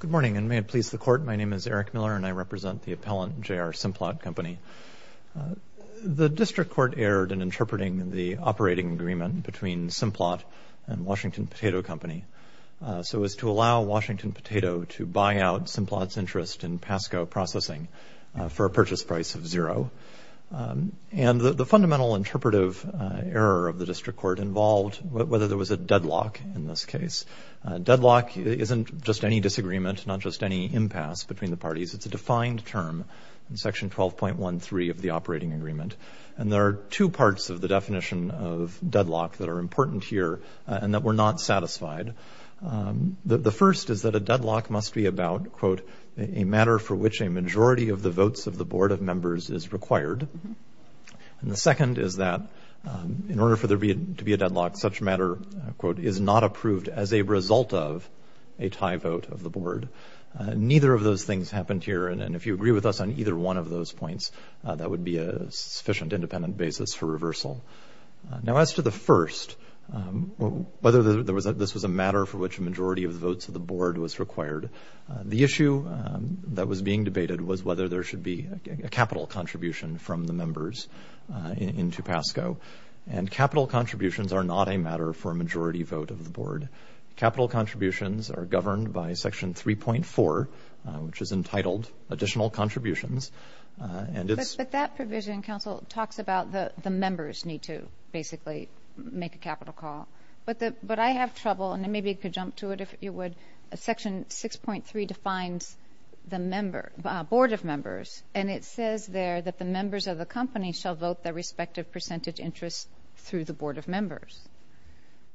Good morning, and may it please the Court, my name is Eric Miller, and I represent the appellant J.R. Simplot Company. The District Court erred in interpreting the operating agreement between Simplot and Washington Potato Company so as to allow Washington Potato to buy out Simplot's interest in PASCO processing for a purchase price of zero. And the fundamental interpretive error of the District Court involved whether there was a deadlock in this case. Deadlock isn't just any disagreement, not just any impasse between the parties, it's a defined term in section 12.13 of the operating agreement. And there are two parts of the definition of deadlock that are important here, and that we're not satisfied. The first is that a deadlock must be about, quote, a matter for which a majority of the votes of the Board of Members is required. And the second is that in order for there to be a deadlock, such matter, quote, is not approved as a result of a tie vote of the Board. Neither of those things happened here, and if you agree with us on either one of those points, that would be a sufficient independent basis for reversal. Now, as to the first, whether this was a matter for which a majority of the votes of the Board was required, the issue that was being debated was whether there should be a capital contribution from the members in Tupasco. And capital contributions are not a matter for a majority vote of the Board. Capital contributions are governed by section 3.4, which is entitled Additional Contributions. But that provision, counsel, talks about the members need to basically make a capital call. But I have trouble, and maybe you could jump to it if you would, section 6.3 defines the Board of Members, and it says there that the members of the company shall vote their respective percentage interest through the Board of Members.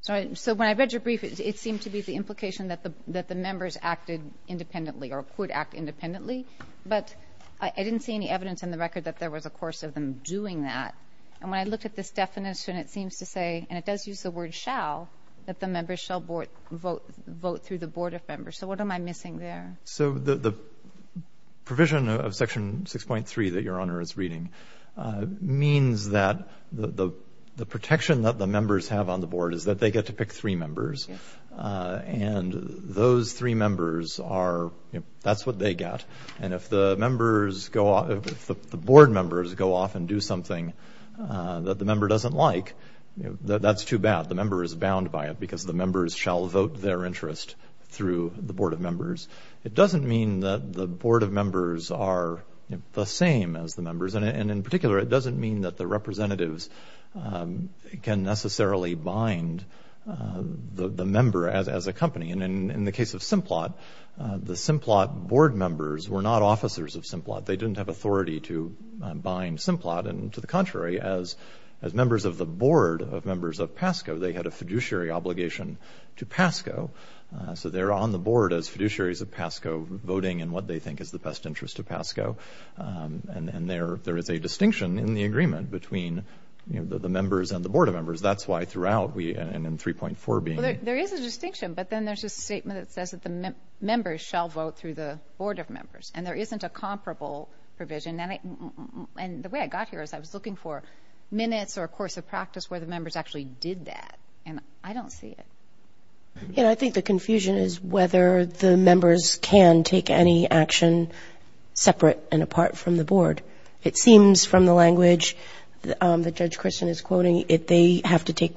So when I read your brief, it seemed to be the implication that the members acted independently, or could act independently, but I didn't see any evidence in the record that there was a course of them doing that. And when I looked at this definition, it seems to say, and it does use the word shall, that the members shall vote through the Board of Members. So what am I missing there? So the provision of section 6.3 that Your Honor is reading means that the protection that the members have on the Board is that they get to pick three members, and those three members are, that's what they get. And if the members go off, if the Board members go off and do something that the member doesn't like, that's too bad. The member is bound by it because the members shall vote their interest through the Board of Members. It doesn't mean that the Board of Members are the same as the members. And in particular, it doesn't mean that the representatives can necessarily bind the member as a company. And in the case of Simplot, the Simplot Board members were not officers of Simplot. They didn't have authority to bind Simplot. And to the contrary, as members of the Board of members of PASCO, they had a fiduciary obligation to PASCO. So they're on the Board as fiduciaries of PASCO, voting in what they think is the best interest of PASCO. And there is a distinction in the agreement between the members and the Board of Members. That's why throughout we, and in 3.4 being a... There's a statement that says that the members shall vote through the Board of Members. And there isn't a comparable provision. And the way I got here is I was looking for minutes or a course of practice where the members actually did that. And I don't see it. And I think the confusion is whether the members can take any action separate and apart from the Board. It seems from the language that Judge Christian is quoting, that they have to take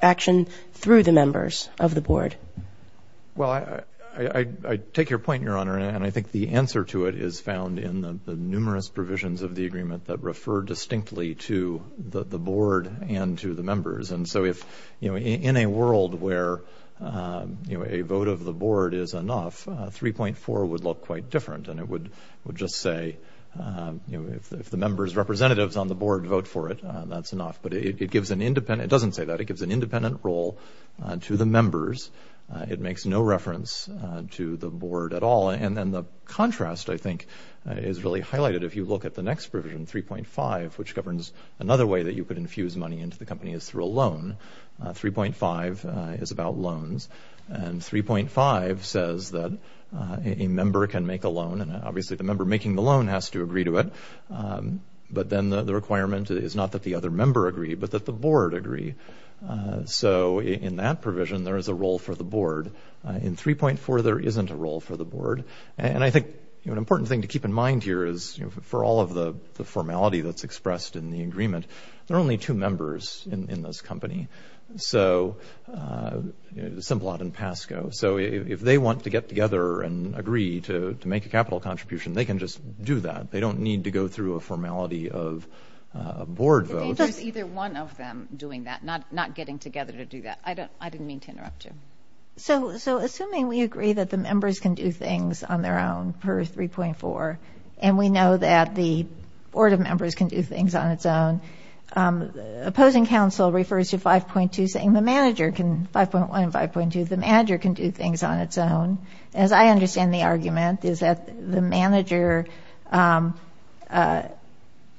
action through the members of the Board. Well, I take your point, Your Honor. And I think the answer to it is found in the numerous provisions of the agreement that refer distinctly to the Board and to the members. And so if, you know, in a world where, you know, a vote of the Board is enough, 3.4 would look quite different. And it would just say, you know, if the members' representatives on the Board vote for it, that's enough. But it gives an independent... It doesn't say that. It gives an independent role to the members. It makes no reference to the Board at all. And then the contrast, I think, is really highlighted if you look at the next provision, 3.5, which governs another way that you could infuse money into the company is through a loan. 3.5 is about loans. And 3.5 says that a member can make a loan. And obviously the member making the loan has to agree to it. But then the requirement is not that the other member agree, but that the Board agree. So in that provision, there is a role for the Board. In 3.4, there isn't a role for the Board. And I think, you know, an important thing to keep in mind here is, you know, for all of the formality that's expressed in the agreement, there are only two members in this company. So Simplot and Pasco. So if they want to get together and agree to make a capital contribution, they can just do that. They don't need to go through a formality of a Board vote. There's either one of them doing that, not getting together to do that. I didn't mean to interrupt you. So assuming we agree that the members can do things on their own per 3.4, and we know that the Board of Members can do things on its own, opposing counsel refers to 5.2 saying the manager can, 5.1 and 5.2, the manager can do things on its own. As I understand the argument, is that the manager,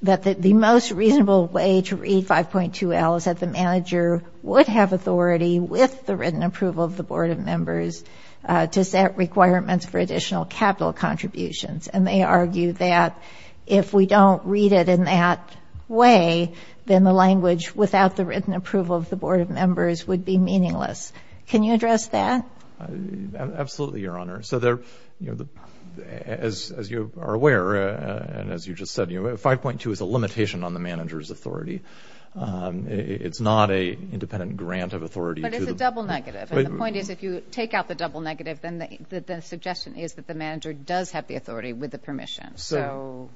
that the most reasonable way to read 5.2L is that the manager would have authority, with the written approval of the Board of Members, to set requirements for additional capital contributions. And they argue that if we don't read it in that way, then the language without the written approval of the Board of Members would be meaningless. Can you address that? Absolutely, Your Honor. As you are aware, and as you just said, 5.2 is a limitation on the manager's authority. It's not an independent grant of authority. But it's a double negative. And the point is, if you take out the double negative, then the suggestion is that the manager does have the authority with the permission. So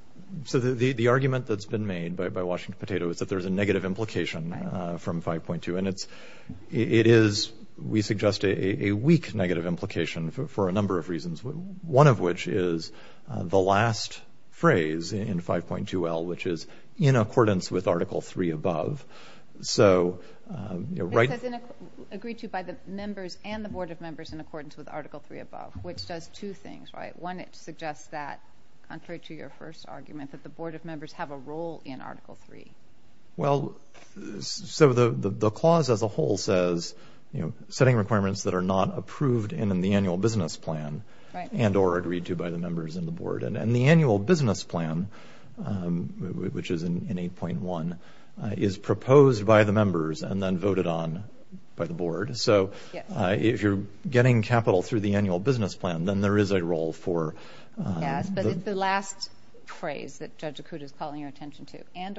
the argument that's been made by Washington Potato is that there's a negative implication from 5.2. And it is, we suggest, a weak negative implication for a number of reasons, one of which is the last phrase in 5.2L, which is, in accordance with Article 3 above. It says, agreed to by the members and the Board of Members in accordance with Article 3 above, which does two things, right? One, it suggests that, contrary to your first argument, that the Board of Members have a role in Article 3. Well, so the clause as a whole says, you know, setting requirements that are not approved in the annual business plan and or agreed to by the members and the Board. And the annual business plan, which is in 8.1, is proposed by the members and then voted on by the Board. So if you're getting capital through the annual business plan, then there is a role for the—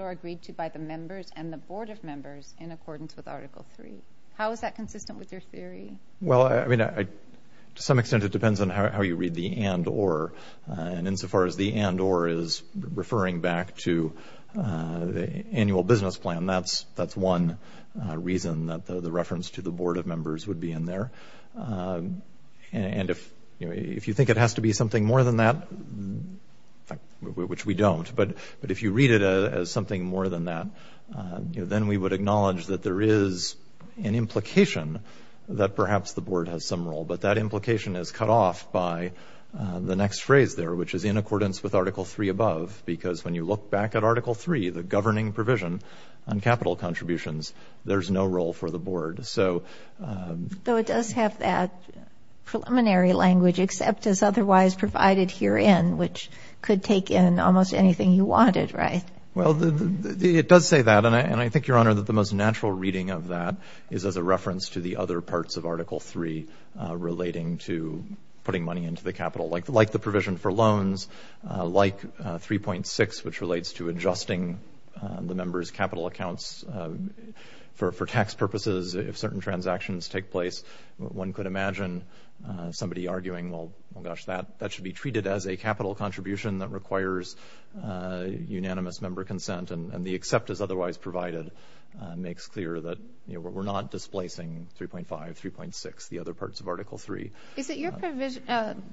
agreed to by the members and the Board of Members in accordance with Article 3. How is that consistent with your theory? Well, I mean, to some extent it depends on how you read the and or. And insofar as the and or is referring back to the annual business plan, that's one reason that the reference to the Board of Members would be in there. And if you think it has to be something more than that, which we don't, but if you read it as something more than that, then we would acknowledge that there is an implication that perhaps the Board has some role. But that implication is cut off by the next phrase there, which is in accordance with Article 3 above, because when you look back at Article 3, the governing provision on capital contributions, there's no role for the Board. So— Though it does have that preliminary language, except as otherwise provided herein, which could take in almost anything you wanted, right? Well, it does say that. And I think, Your Honor, that the most natural reading of that is as a reference to the other parts of Article 3 relating to putting money into the capital, like the provision for loans, like 3.6, which relates to adjusting the members' capital accounts for tax purposes if certain transactions take place. One could imagine somebody arguing, well, gosh, that should be treated as a capital contribution that requires unanimous member consent, and the except as otherwise provided makes clear that we're not displacing 3.5, 3.6, the other parts of Article 3. Is it your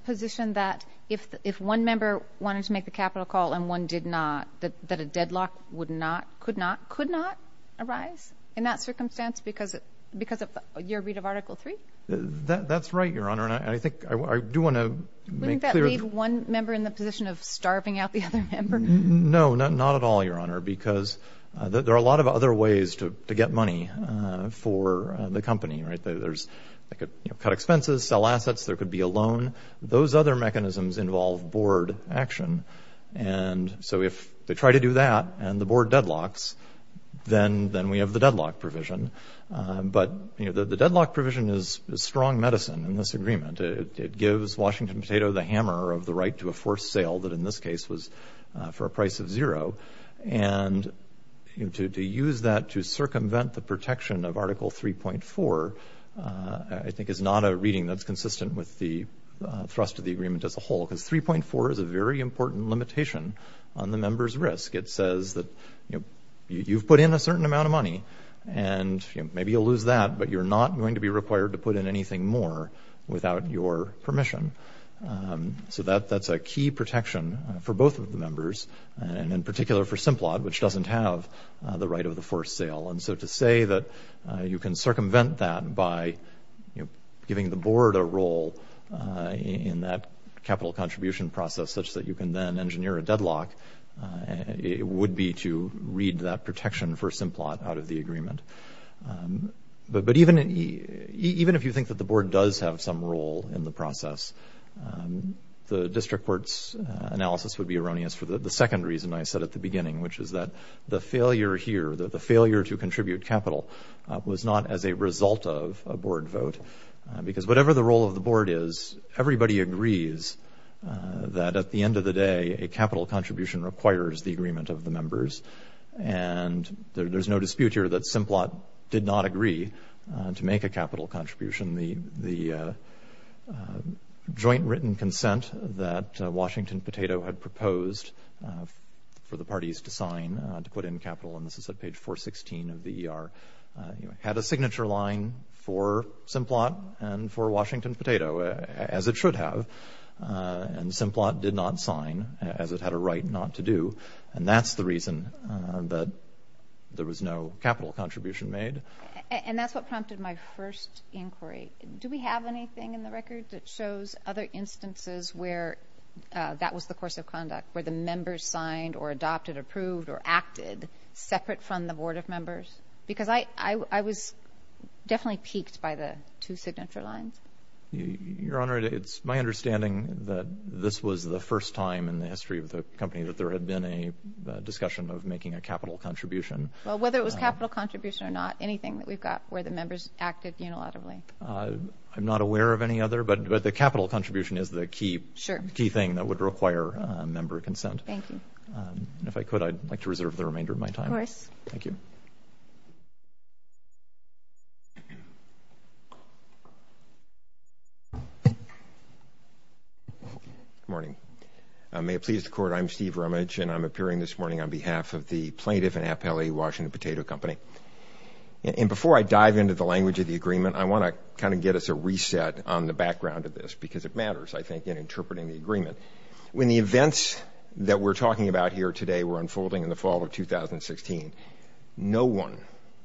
position that if one member wanted to make the capital call and one did not, that a deadlock would not, could not, could not arise in that circumstance because of your read of Article 3? That's right, Your Honor, and I think I do want to make clear— Wouldn't that leave one member in the position of starving out the other member? No, not at all, Your Honor, because there are a lot of other ways to get money for the company, right? They could cut expenses, sell assets, there could be a loan. Those other mechanisms involve Board action. And so if they try to do that and the Board deadlocks, then we have the deadlock provision. But, you know, the deadlock provision is strong medicine in this agreement. It gives Washington Potato the hammer of the right to a forced sale that in this case was for a price of zero. And to use that to circumvent the protection of Article 3.4, I think, is not a reading that's consistent with the thrust of the agreement as a whole because 3.4 is a very important limitation on the member's risk. It says that, you know, you've put in a certain amount of money and maybe you'll lose that, but you're not going to be required to put in anything more without your permission. So that's a key protection for both of the members and in particular for Simplot, which doesn't have the right of the forced sale. And so to say that you can circumvent that by, you know, giving the Board a role in that capital contribution process such that you can then engineer a deadlock, it would be to read that protection for Simplot out of the agreement. But even if you think that the Board does have some role in the process, the district court's analysis would be erroneous for the second reason I said at the beginning, which is that the failure here, the failure to contribute capital, was not as a result of a Board vote because whatever the role of the Board is, everybody agrees that at the end of the day, a capital contribution requires the agreement of the members. And there's no dispute here that Simplot did not agree to make a capital contribution. The joint written consent that Washington Potato had proposed for the parties to sign to put in capital, and this is at page 416 of the ER, had a signature line for Simplot and for Washington Potato, as it should have. And Simplot did not sign, as it had a right not to do. And that's the reason that there was no capital contribution made. And that's what prompted my first inquiry. Do we have anything in the record that shows other instances where that was the course of conduct, where the members signed or adopted, approved, or acted separate from the Board of Members? Because I was definitely piqued by the two signature lines. Your Honor, it's my understanding that this was the first time in the history of the company that there had been a discussion of making a capital contribution. Well, whether it was capital contribution or not, anything that we've got where the members acted unilaterally. I'm not aware of any other, but the capital contribution is the key thing that would require member consent. Thank you. And if I could, I'd like to reserve the remainder of my time. Of course. Thank you. Good morning. May it please the Court, I'm Steve Rumage, and I'm appearing this morning on behalf of the plaintiff and appellee, Washington Potato Company. And before I dive into the language of the agreement, I want to kind of get us a reset on the background of this because it matters, I think, in interpreting the agreement. When the events that we're talking about here today were unfolding in the fall of 2016, no one,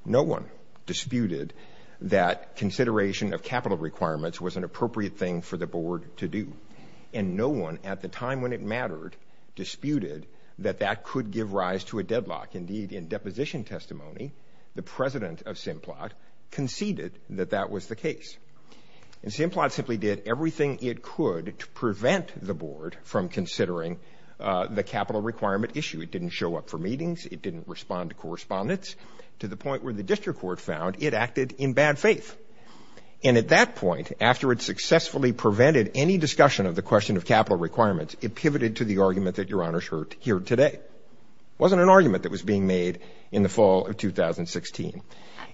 no one disputed that consideration of capital requirements was an appropriate thing for the board to do. And no one at the time when it mattered disputed that that could give rise to a deadlock. Indeed, in deposition testimony, the president of Simplot conceded that that was the case. And Simplot simply did everything it could to prevent the board from considering the capital requirement issue. It didn't show up for meetings. It didn't respond to correspondence to the point where the district court found it acted in bad faith. And at that point, after it successfully prevented any discussion of the question of capital requirements, it pivoted to the argument that Your Honors heard here today. It wasn't an argument that was being made in the fall of 2016.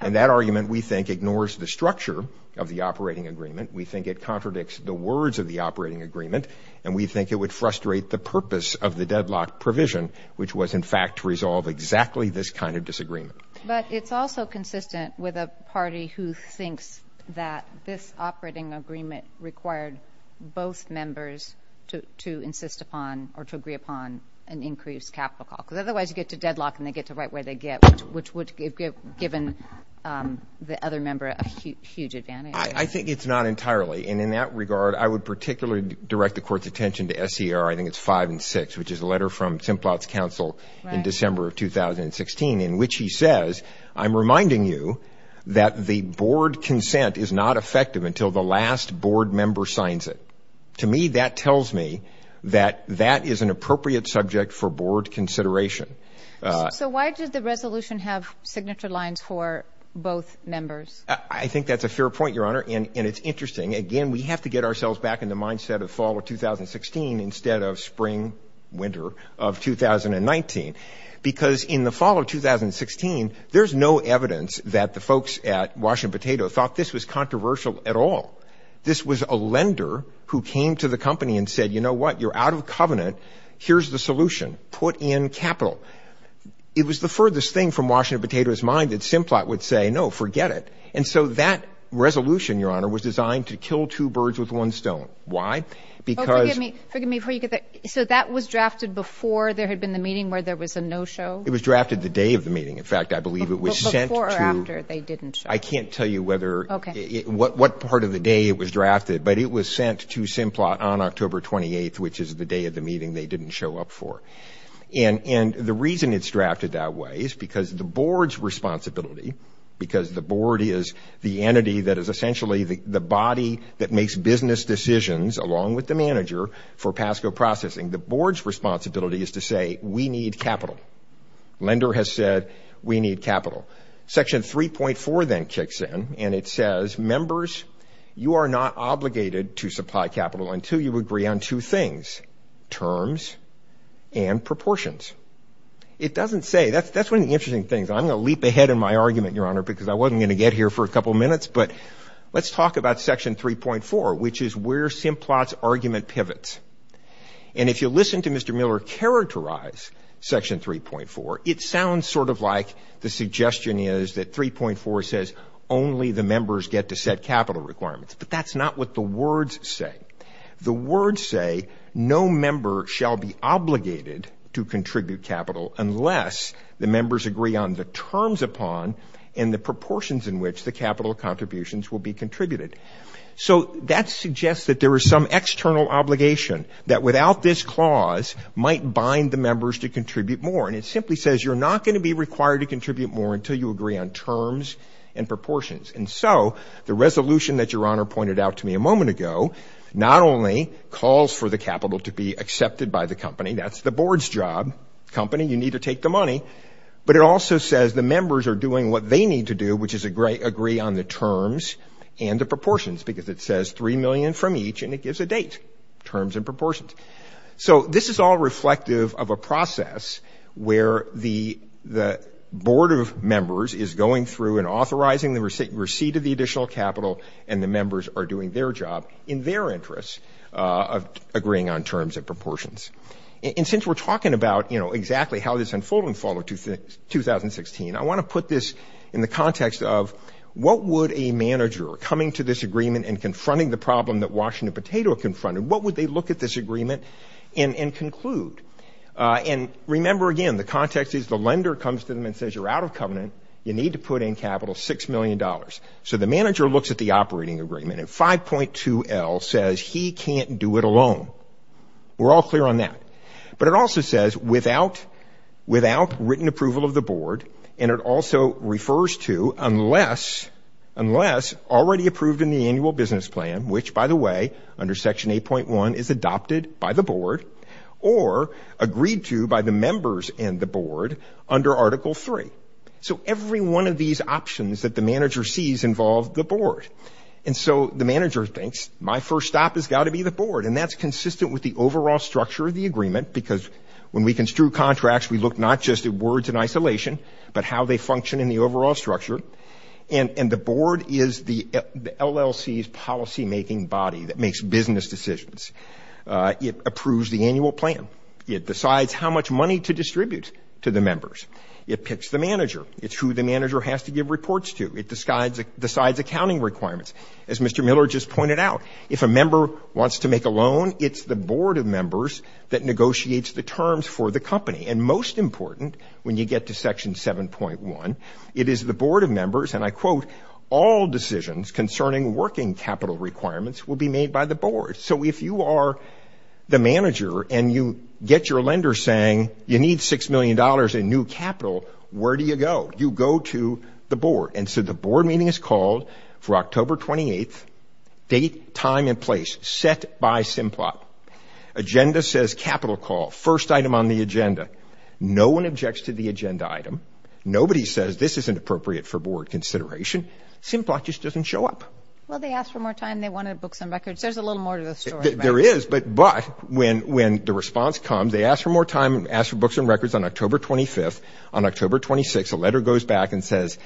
And that argument, we think, ignores the structure of the operating agreement. We think it contradicts the words of the operating agreement, and we think it would frustrate the purpose of the deadlock provision, which was, in fact, to resolve exactly this kind of disagreement. But it's also consistent with a party who thinks that this operating agreement required both members to insist upon or to agree upon an increased capital call, because otherwise you get to deadlock and they get to write what they get, which would have given the other member a huge advantage. I think it's not entirely. And in that regard, I would particularly direct the court's attention to SCR, I think it's 5 and 6, which is a letter from Simplot's counsel in December of 2016, in which he says, I'm reminding you that the board consent is not effective until the last board member signs it. To me, that tells me that that is an appropriate subject for board consideration. So why did the resolution have signature lines for both members? I think that's a fair point, Your Honor, and it's interesting. Again, we have to get ourselves back in the mindset of fall of 2016 instead of spring, winter of 2019, because in the fall of 2016, there's no evidence that the folks at Washington Potato thought this was controversial at all. This was a lender who came to the company and said, you know what, you're out of covenant, here's the solution, put in capital. It was the furthest thing from Washington Potato's mind that Simplot would say, no, forget it. And so that resolution, Your Honor, was designed to kill two birds with one stone. Why? Because — Oh, forgive me. Forgive me before you get that. So that was drafted before there had been the meeting where there was a no-show? It was drafted the day of the meeting. In fact, I believe it was sent to — Before or after they didn't show? I can't tell you whether — Okay. — what part of the day it was drafted, but it was sent to Simplot on October 28th, which is the day of the meeting they didn't show up for. And the reason it's drafted that way is because the board's responsibility, because the board is the entity that is essentially the body that makes business decisions, along with the manager, for PASCO processing. The board's responsibility is to say, we need capital. Lender has said, we need capital. Section 3.4 then kicks in, and it says, members, you are not obligated to supply capital until you agree on two things, terms and proportions. It doesn't say — that's one of the interesting things. I'm going to leap ahead in my argument, Your Honor, because I wasn't going to get here for a couple minutes, but let's talk about Section 3.4, which is where Simplot's argument pivots. And if you listen to Mr. Miller characterize Section 3.4, it sounds sort of like the suggestion is that 3.4 says only the members get to set capital requirements, but that's not what the words say. The words say, no member shall be obligated to contribute capital unless the members agree on the terms upon and the proportions in which the capital contributions will be contributed. So that suggests that there is some external obligation that, without this clause, might bind the members to contribute more. And it simply says you're not going to be required to contribute more until you agree on terms and proportions. And so the resolution that Your Honor pointed out to me a moment ago not only calls for the capital to be accepted by the company, that's the board's job, company, you need to take the money, but it also says the members are doing what they need to do, which is agree on the terms and the proportions, because it says $3 million from each and it gives a date, terms and proportions. So this is all reflective of a process where the board of members is going through and authorizing the receipt of the additional capital and the members are doing their job in their interest of agreeing on terms and proportions. And since we're talking about, you know, exactly how this unfolded in fall of 2016, I want to put this in the context of what would a manager coming to this agreement and confronting the problem that Washington Potato confronted, what would they look at this agreement and conclude? And remember, again, the context is the lender comes to them and says you're out of covenant, you need to put in capital $6 million. So the manager looks at the operating agreement and 5.2L says he can't do it alone. We're all clear on that. But it also says without written approval of the board, and it also refers to unless already approved in the annual business plan, which, by the way, under Section 8.1 is adopted by the board, or agreed to by the members and the board under Article 3. So every one of these options that the manager sees involve the board. And so the manager thinks my first stop has got to be the board. Because when we construe contracts, we look not just at words in isolation, but how they function in the overall structure. And the board is the LLC's policymaking body that makes business decisions. It approves the annual plan. It decides how much money to distribute to the members. It picks the manager. It's who the manager has to give reports to. It decides accounting requirements. As Mr. Miller just pointed out, if a member wants to make a loan, it's the board of members that negotiates the terms for the company. And most important, when you get to Section 7.1, it is the board of members, and I quote, all decisions concerning working capital requirements will be made by the board. So if you are the manager and you get your lender saying you need $6 million in new capital, where do you go? You go to the board. And so the board meeting is called for October 28th, date, time, and place set by Simplot. Agenda says capital call, first item on the agenda. No one objects to the agenda item. Nobody says this isn't appropriate for board consideration. Simplot just doesn't show up. Well, they asked for more time. They wanted books and records. There's a little more to the story. There is, but when the response comes, they ask for more time, ask for books and records on October 25th. On October 26th, a letter goes back and says,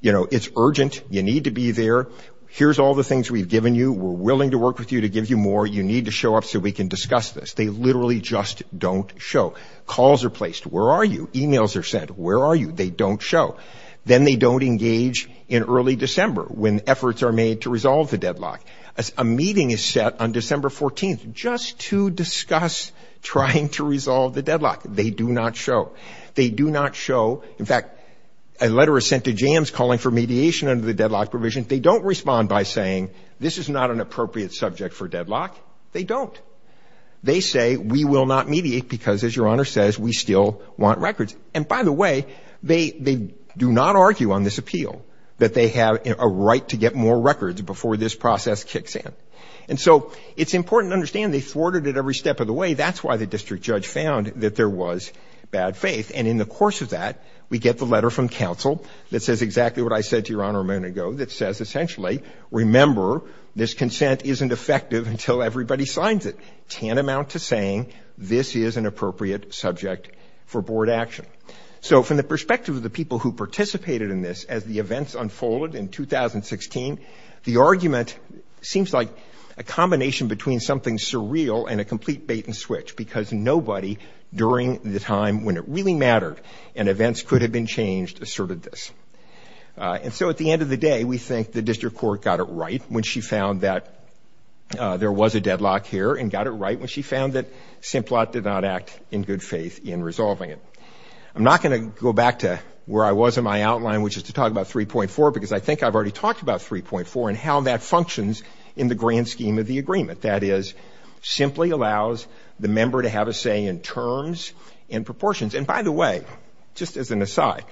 you know, it's urgent. You need to be there. Here's all the things we've given you. We're willing to work with you to give you more. You need to show up so we can discuss this. They literally just don't show. Calls are placed. Where are you? E-mails are sent. Where are you? They don't show. Then they don't engage in early December when efforts are made to resolve the deadlock. A meeting is set on December 14th just to discuss trying to resolve the deadlock. They do not show. They do not show. In fact, a letter is sent to Jams calling for mediation under the deadlock provision. They don't respond by saying this is not an appropriate subject for deadlock. They don't. They say we will not mediate because, as Your Honor says, we still want records. And by the way, they do not argue on this appeal that they have a right to get more records before this process kicks in. And so it's important to understand they thwarted it every step of the way. That's why the district judge found that there was bad faith. And in the course of that, we get the letter from counsel that says exactly what I said to Your Honor a moment ago, that says essentially, remember, this consent isn't effective until everybody signs it. It can't amount to saying this is an appropriate subject for board action. So from the perspective of the people who participated in this, as the events unfolded in 2016, the argument seems like a combination between something surreal and a complete bait and switch because nobody during the time when it really mattered and events could have been changed asserted this. And so at the end of the day, we think the district court got it right when she found that there was a deadlock here and got it right when she found that Simplot did not act in good faith in resolving it. I'm not going to go back to where I was in my outline, which is to talk about 3.4, because I think I've already talked about 3.4 and how that functions in the grand scheme of the agreement. That is, simply allows the member to have a say in terms and proportions. And by the way, just as an aside,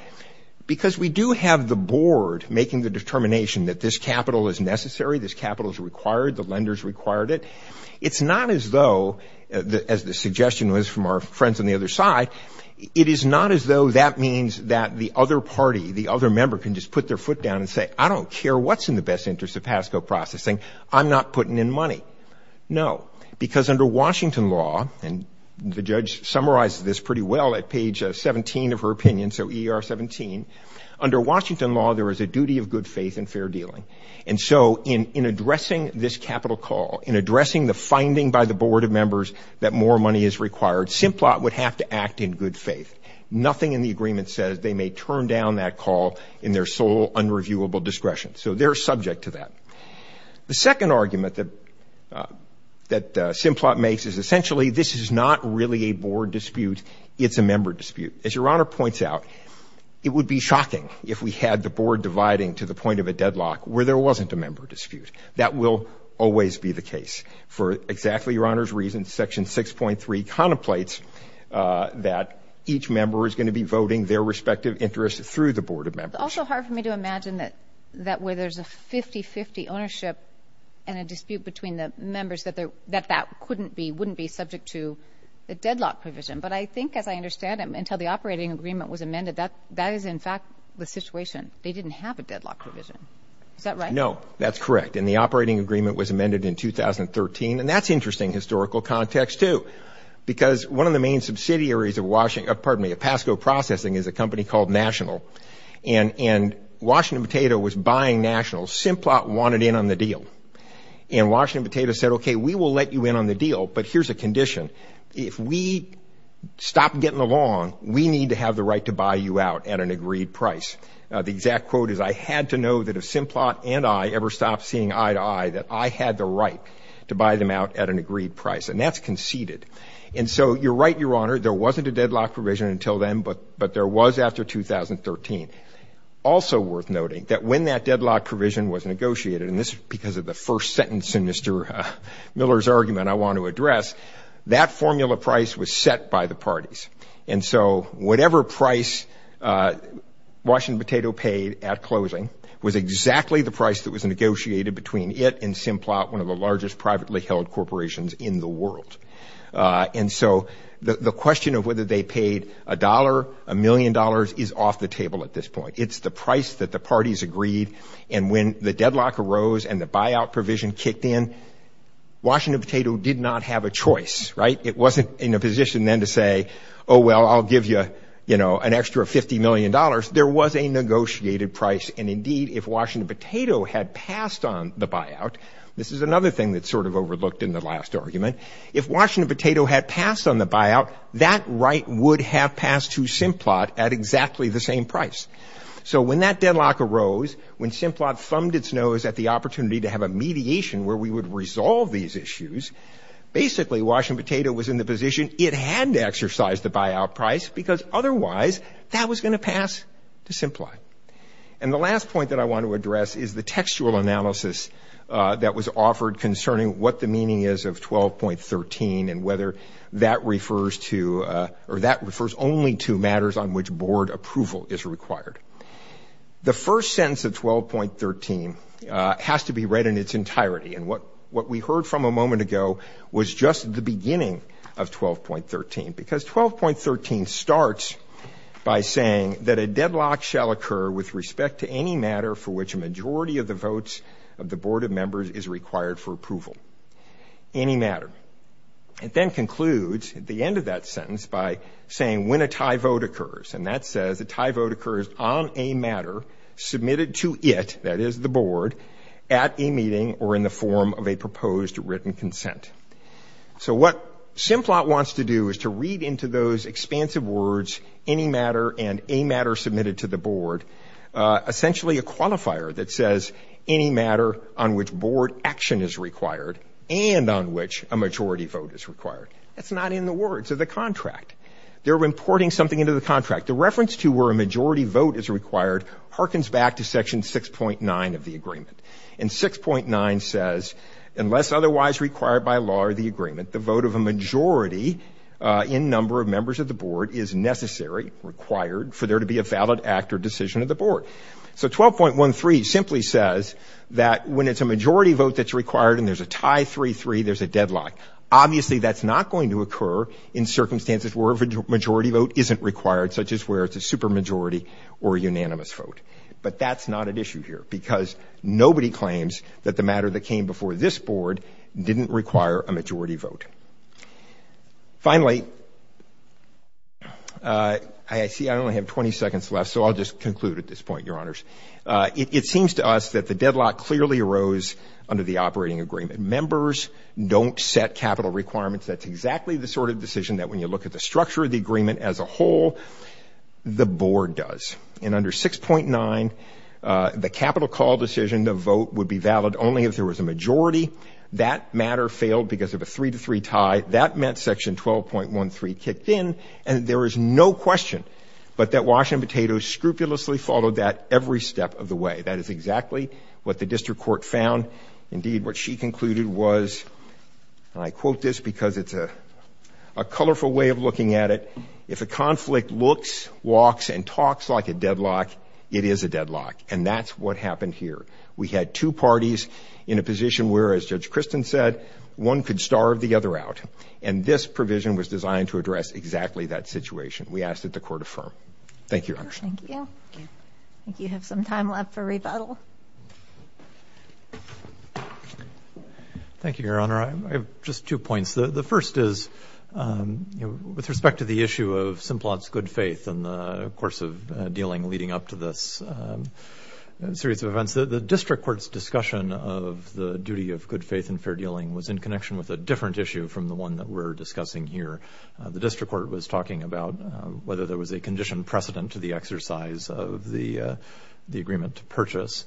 because we do have the board making the determination that this capital is necessary, this capital is required, the lenders required it. It's not as though, as the suggestion was from our friends on the other side, it is not as though that means that the other party, the other member can just put their foot down and say, I don't care what's in the best interest of PASCO processing. I'm not putting in money. No, because under Washington law, and the judge summarized this pretty well at page 17 of her opinion. So E.R. 17. Under Washington law, there is a duty of good faith and fair dealing. And so in addressing this capital call, in addressing the finding by the board of members that more money is required, Simplot would have to act in good faith. Nothing in the agreement says they may turn down that call in their sole unreviewable discretion. So they're subject to that. The second argument that Simplot makes is essentially this is not really a board dispute. It's a member dispute. As Your Honor points out, it would be shocking if we had the board dividing to the point of a deadlock where there wasn't a member dispute. That will always be the case. For exactly Your Honor's reasons, Section 6.3 contemplates that each member is going to be voting their respective interests through the board of members. It's also hard for me to imagine that where there's a 50-50 ownership and a dispute between the members, that that wouldn't be subject to a deadlock provision. But I think, as I understand it, until the operating agreement was amended, that is, in fact, the situation. They didn't have a deadlock provision. Is that right? No, that's correct. And the operating agreement was amended in 2013. And that's interesting historical context, too. Because one of the main subsidiaries of Pasco Processing is a company called National. And Washington Potato was buying National. Simplot wanted in on the deal. And Washington Potato said, okay, we will let you in on the deal, but here's a condition. If we stop getting along, we need to have the right to buy you out at an agreed price. The exact quote is, I had to know that if Simplot and I ever stopped seeing eye to eye, that I had the right to buy them out at an agreed price. And that's conceded. And so you're right, Your Honor, there wasn't a deadlock provision until then, but there was after 2013. Also worth noting that when that deadlock provision was negotiated, and this is because of the first sentence in Mr. Miller's argument I want to address, that formula price was set by the parties. And so whatever price Washington Potato paid at closing was exactly the price that was negotiated between it and Simplot, one of the largest privately held corporations in the world. And so the question of whether they paid a dollar, a million dollars, is off the table at this point. It's the price that the parties agreed. And when the deadlock arose and the buyout provision kicked in, Washington Potato did not have a choice, right? It wasn't in a position then to say, oh, well, I'll give you, you know, an extra $50 million. There was a negotiated price, and indeed, if Washington Potato had passed on the buyout, this is another thing that's sort of overlooked in the last argument. If Washington Potato had passed on the buyout, that right would have passed to Simplot at exactly the same price. So when that deadlock arose, when Simplot thumbed its nose at the opportunity to have a mediation where we would resolve these issues, basically Washington Potato was in the position it had to exercise the buyout price because otherwise that was going to pass to Simplot. And the last point that I want to address is the textual analysis that was offered concerning what the meaning is of 12.13 and whether that refers to or that refers only to matters on which board approval is required. The first sentence of 12.13 has to be read in its entirety, and what we heard from a moment ago was just the beginning of 12.13, because 12.13 starts by saying that a deadlock shall occur with respect to any matter for which a majority of the votes of the board of members is required for approval, any matter. It then concludes at the end of that sentence by saying when a tie vote occurs, and that says a tie vote occurs on a matter submitted to it, that is the board, at a meeting or in the form of a proposed written consent. So what Simplot wants to do is to read into those expansive words, any matter and a matter submitted to the board, essentially a qualifier that says any matter on which board action is required and on which a majority vote is required. That's not in the words of the contract. They're importing something into the contract. The reference to where a majority vote is required harkens back to Section 6.9 of the agreement, and 6.9 says unless otherwise required by law or the agreement, the vote of a majority in number of members of the board is necessary, required, for there to be a valid act or decision of the board. So 12.13 simply says that when it's a majority vote that's required and there's a tie 3-3, there's a deadlock. Obviously, that's not going to occur in circumstances where a majority vote isn't required, such as where it's a supermajority or a unanimous vote. But that's not at issue here because nobody claims that the matter that came before this board didn't require a majority vote. Finally, I see I only have 20 seconds left, so I'll just conclude at this point, Your Honors. It seems to us that the deadlock clearly arose under the operating agreement. Members don't set capital requirements. That's exactly the sort of decision that when you look at the structure of the agreement as a whole, the board does. And under 6.9, the capital call decision, the vote would be valid only if there was a majority. That matter failed because of a 3-3 tie. That meant Section 12.13 kicked in. And there is no question but that Washington Potatoes scrupulously followed that every step of the way. That is exactly what the district court found. Indeed, what she concluded was, and I quote this because it's a colorful way of looking at it, if a conflict looks, walks, and talks like a deadlock, it is a deadlock. And that's what happened here. We had two parties in a position where, as Judge Kristen said, one could starve the other out. And this provision was designed to address exactly that situation. We ask that the court affirm. Thank you, Your Honors. Thank you. I think you have some time left for rebuttal. Thank you, Your Honor. I have just two points. The first is with respect to the issue of Simplot's good faith in the course of dealing leading up to this series of events, the district court's discussion of the duty of good faith and fair dealing was in connection with a different issue from the one that we're discussing here. The district court was talking about whether there was a condition precedent to the exercise of the agreement to purchase.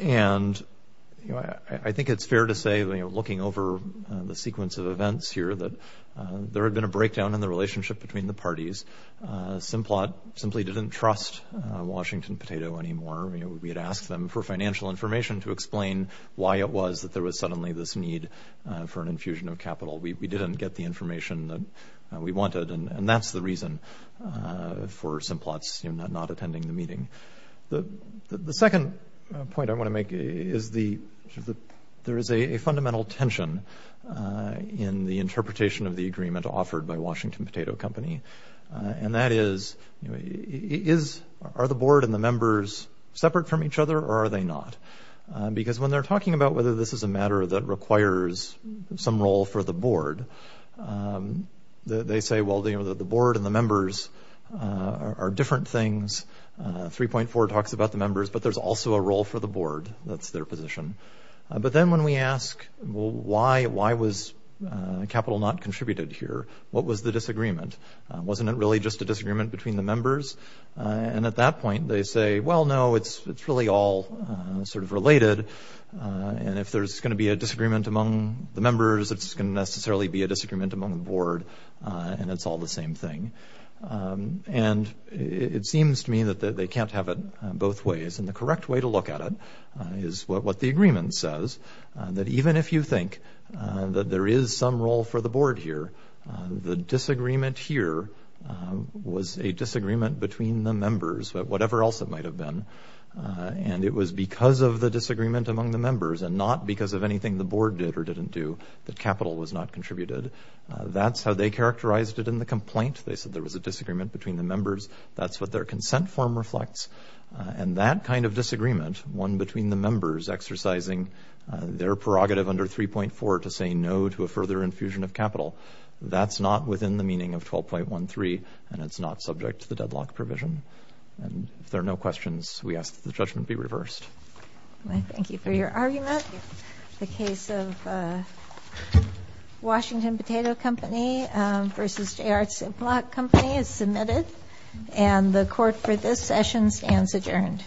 And I think it's fair to say, looking over the sequence of events here, that there had been a breakdown in the relationship between the parties. Simplot simply didn't trust Washington Potato anymore. We had asked them for financial information to explain why it was that there was suddenly this need for an infusion of capital. We didn't get the information that we wanted, and that's the reason for Simplot's not attending the meeting. The second point I want to make is there is a fundamental tension in the interpretation of the agreement offered by Washington Potato Company, and that is, are the board and the members separate from each other or are they not? Because when they're talking about whether this is a matter that requires some role for the board, they say, well, the board and the members are different things. 3.4 talks about the members, but there's also a role for the board. That's their position. But then when we ask, well, why was capital not contributed here? What was the disagreement? Wasn't it really just a disagreement between the members? And at that point they say, well, no, it's really all sort of related, and if there's going to be a disagreement among the members, it's going to necessarily be a disagreement among the board, and it's all the same thing. And it seems to me that they can't have it both ways, and the correct way to look at it is what the agreement says, that even if you think that there is some role for the board here, the disagreement here was a disagreement between the members, whatever else it might have been, and it was because of the disagreement among the members and not because of anything the board did or didn't do that capital was not contributed. That's how they characterized it in the complaint. They said there was a disagreement between the members. That's what their consent form reflects. And that kind of disagreement, one between the members exercising their prerogative under 3.4 to say no to a further infusion of capital, that's not within the meaning of 12.13, and it's not subject to the deadlock provision. And if there are no questions, we ask that the judgment be reversed. Thank you for your argument. The case of Washington Potato Company v. J.R. Simplot Company is submitted, and the court for this session stands adjourned.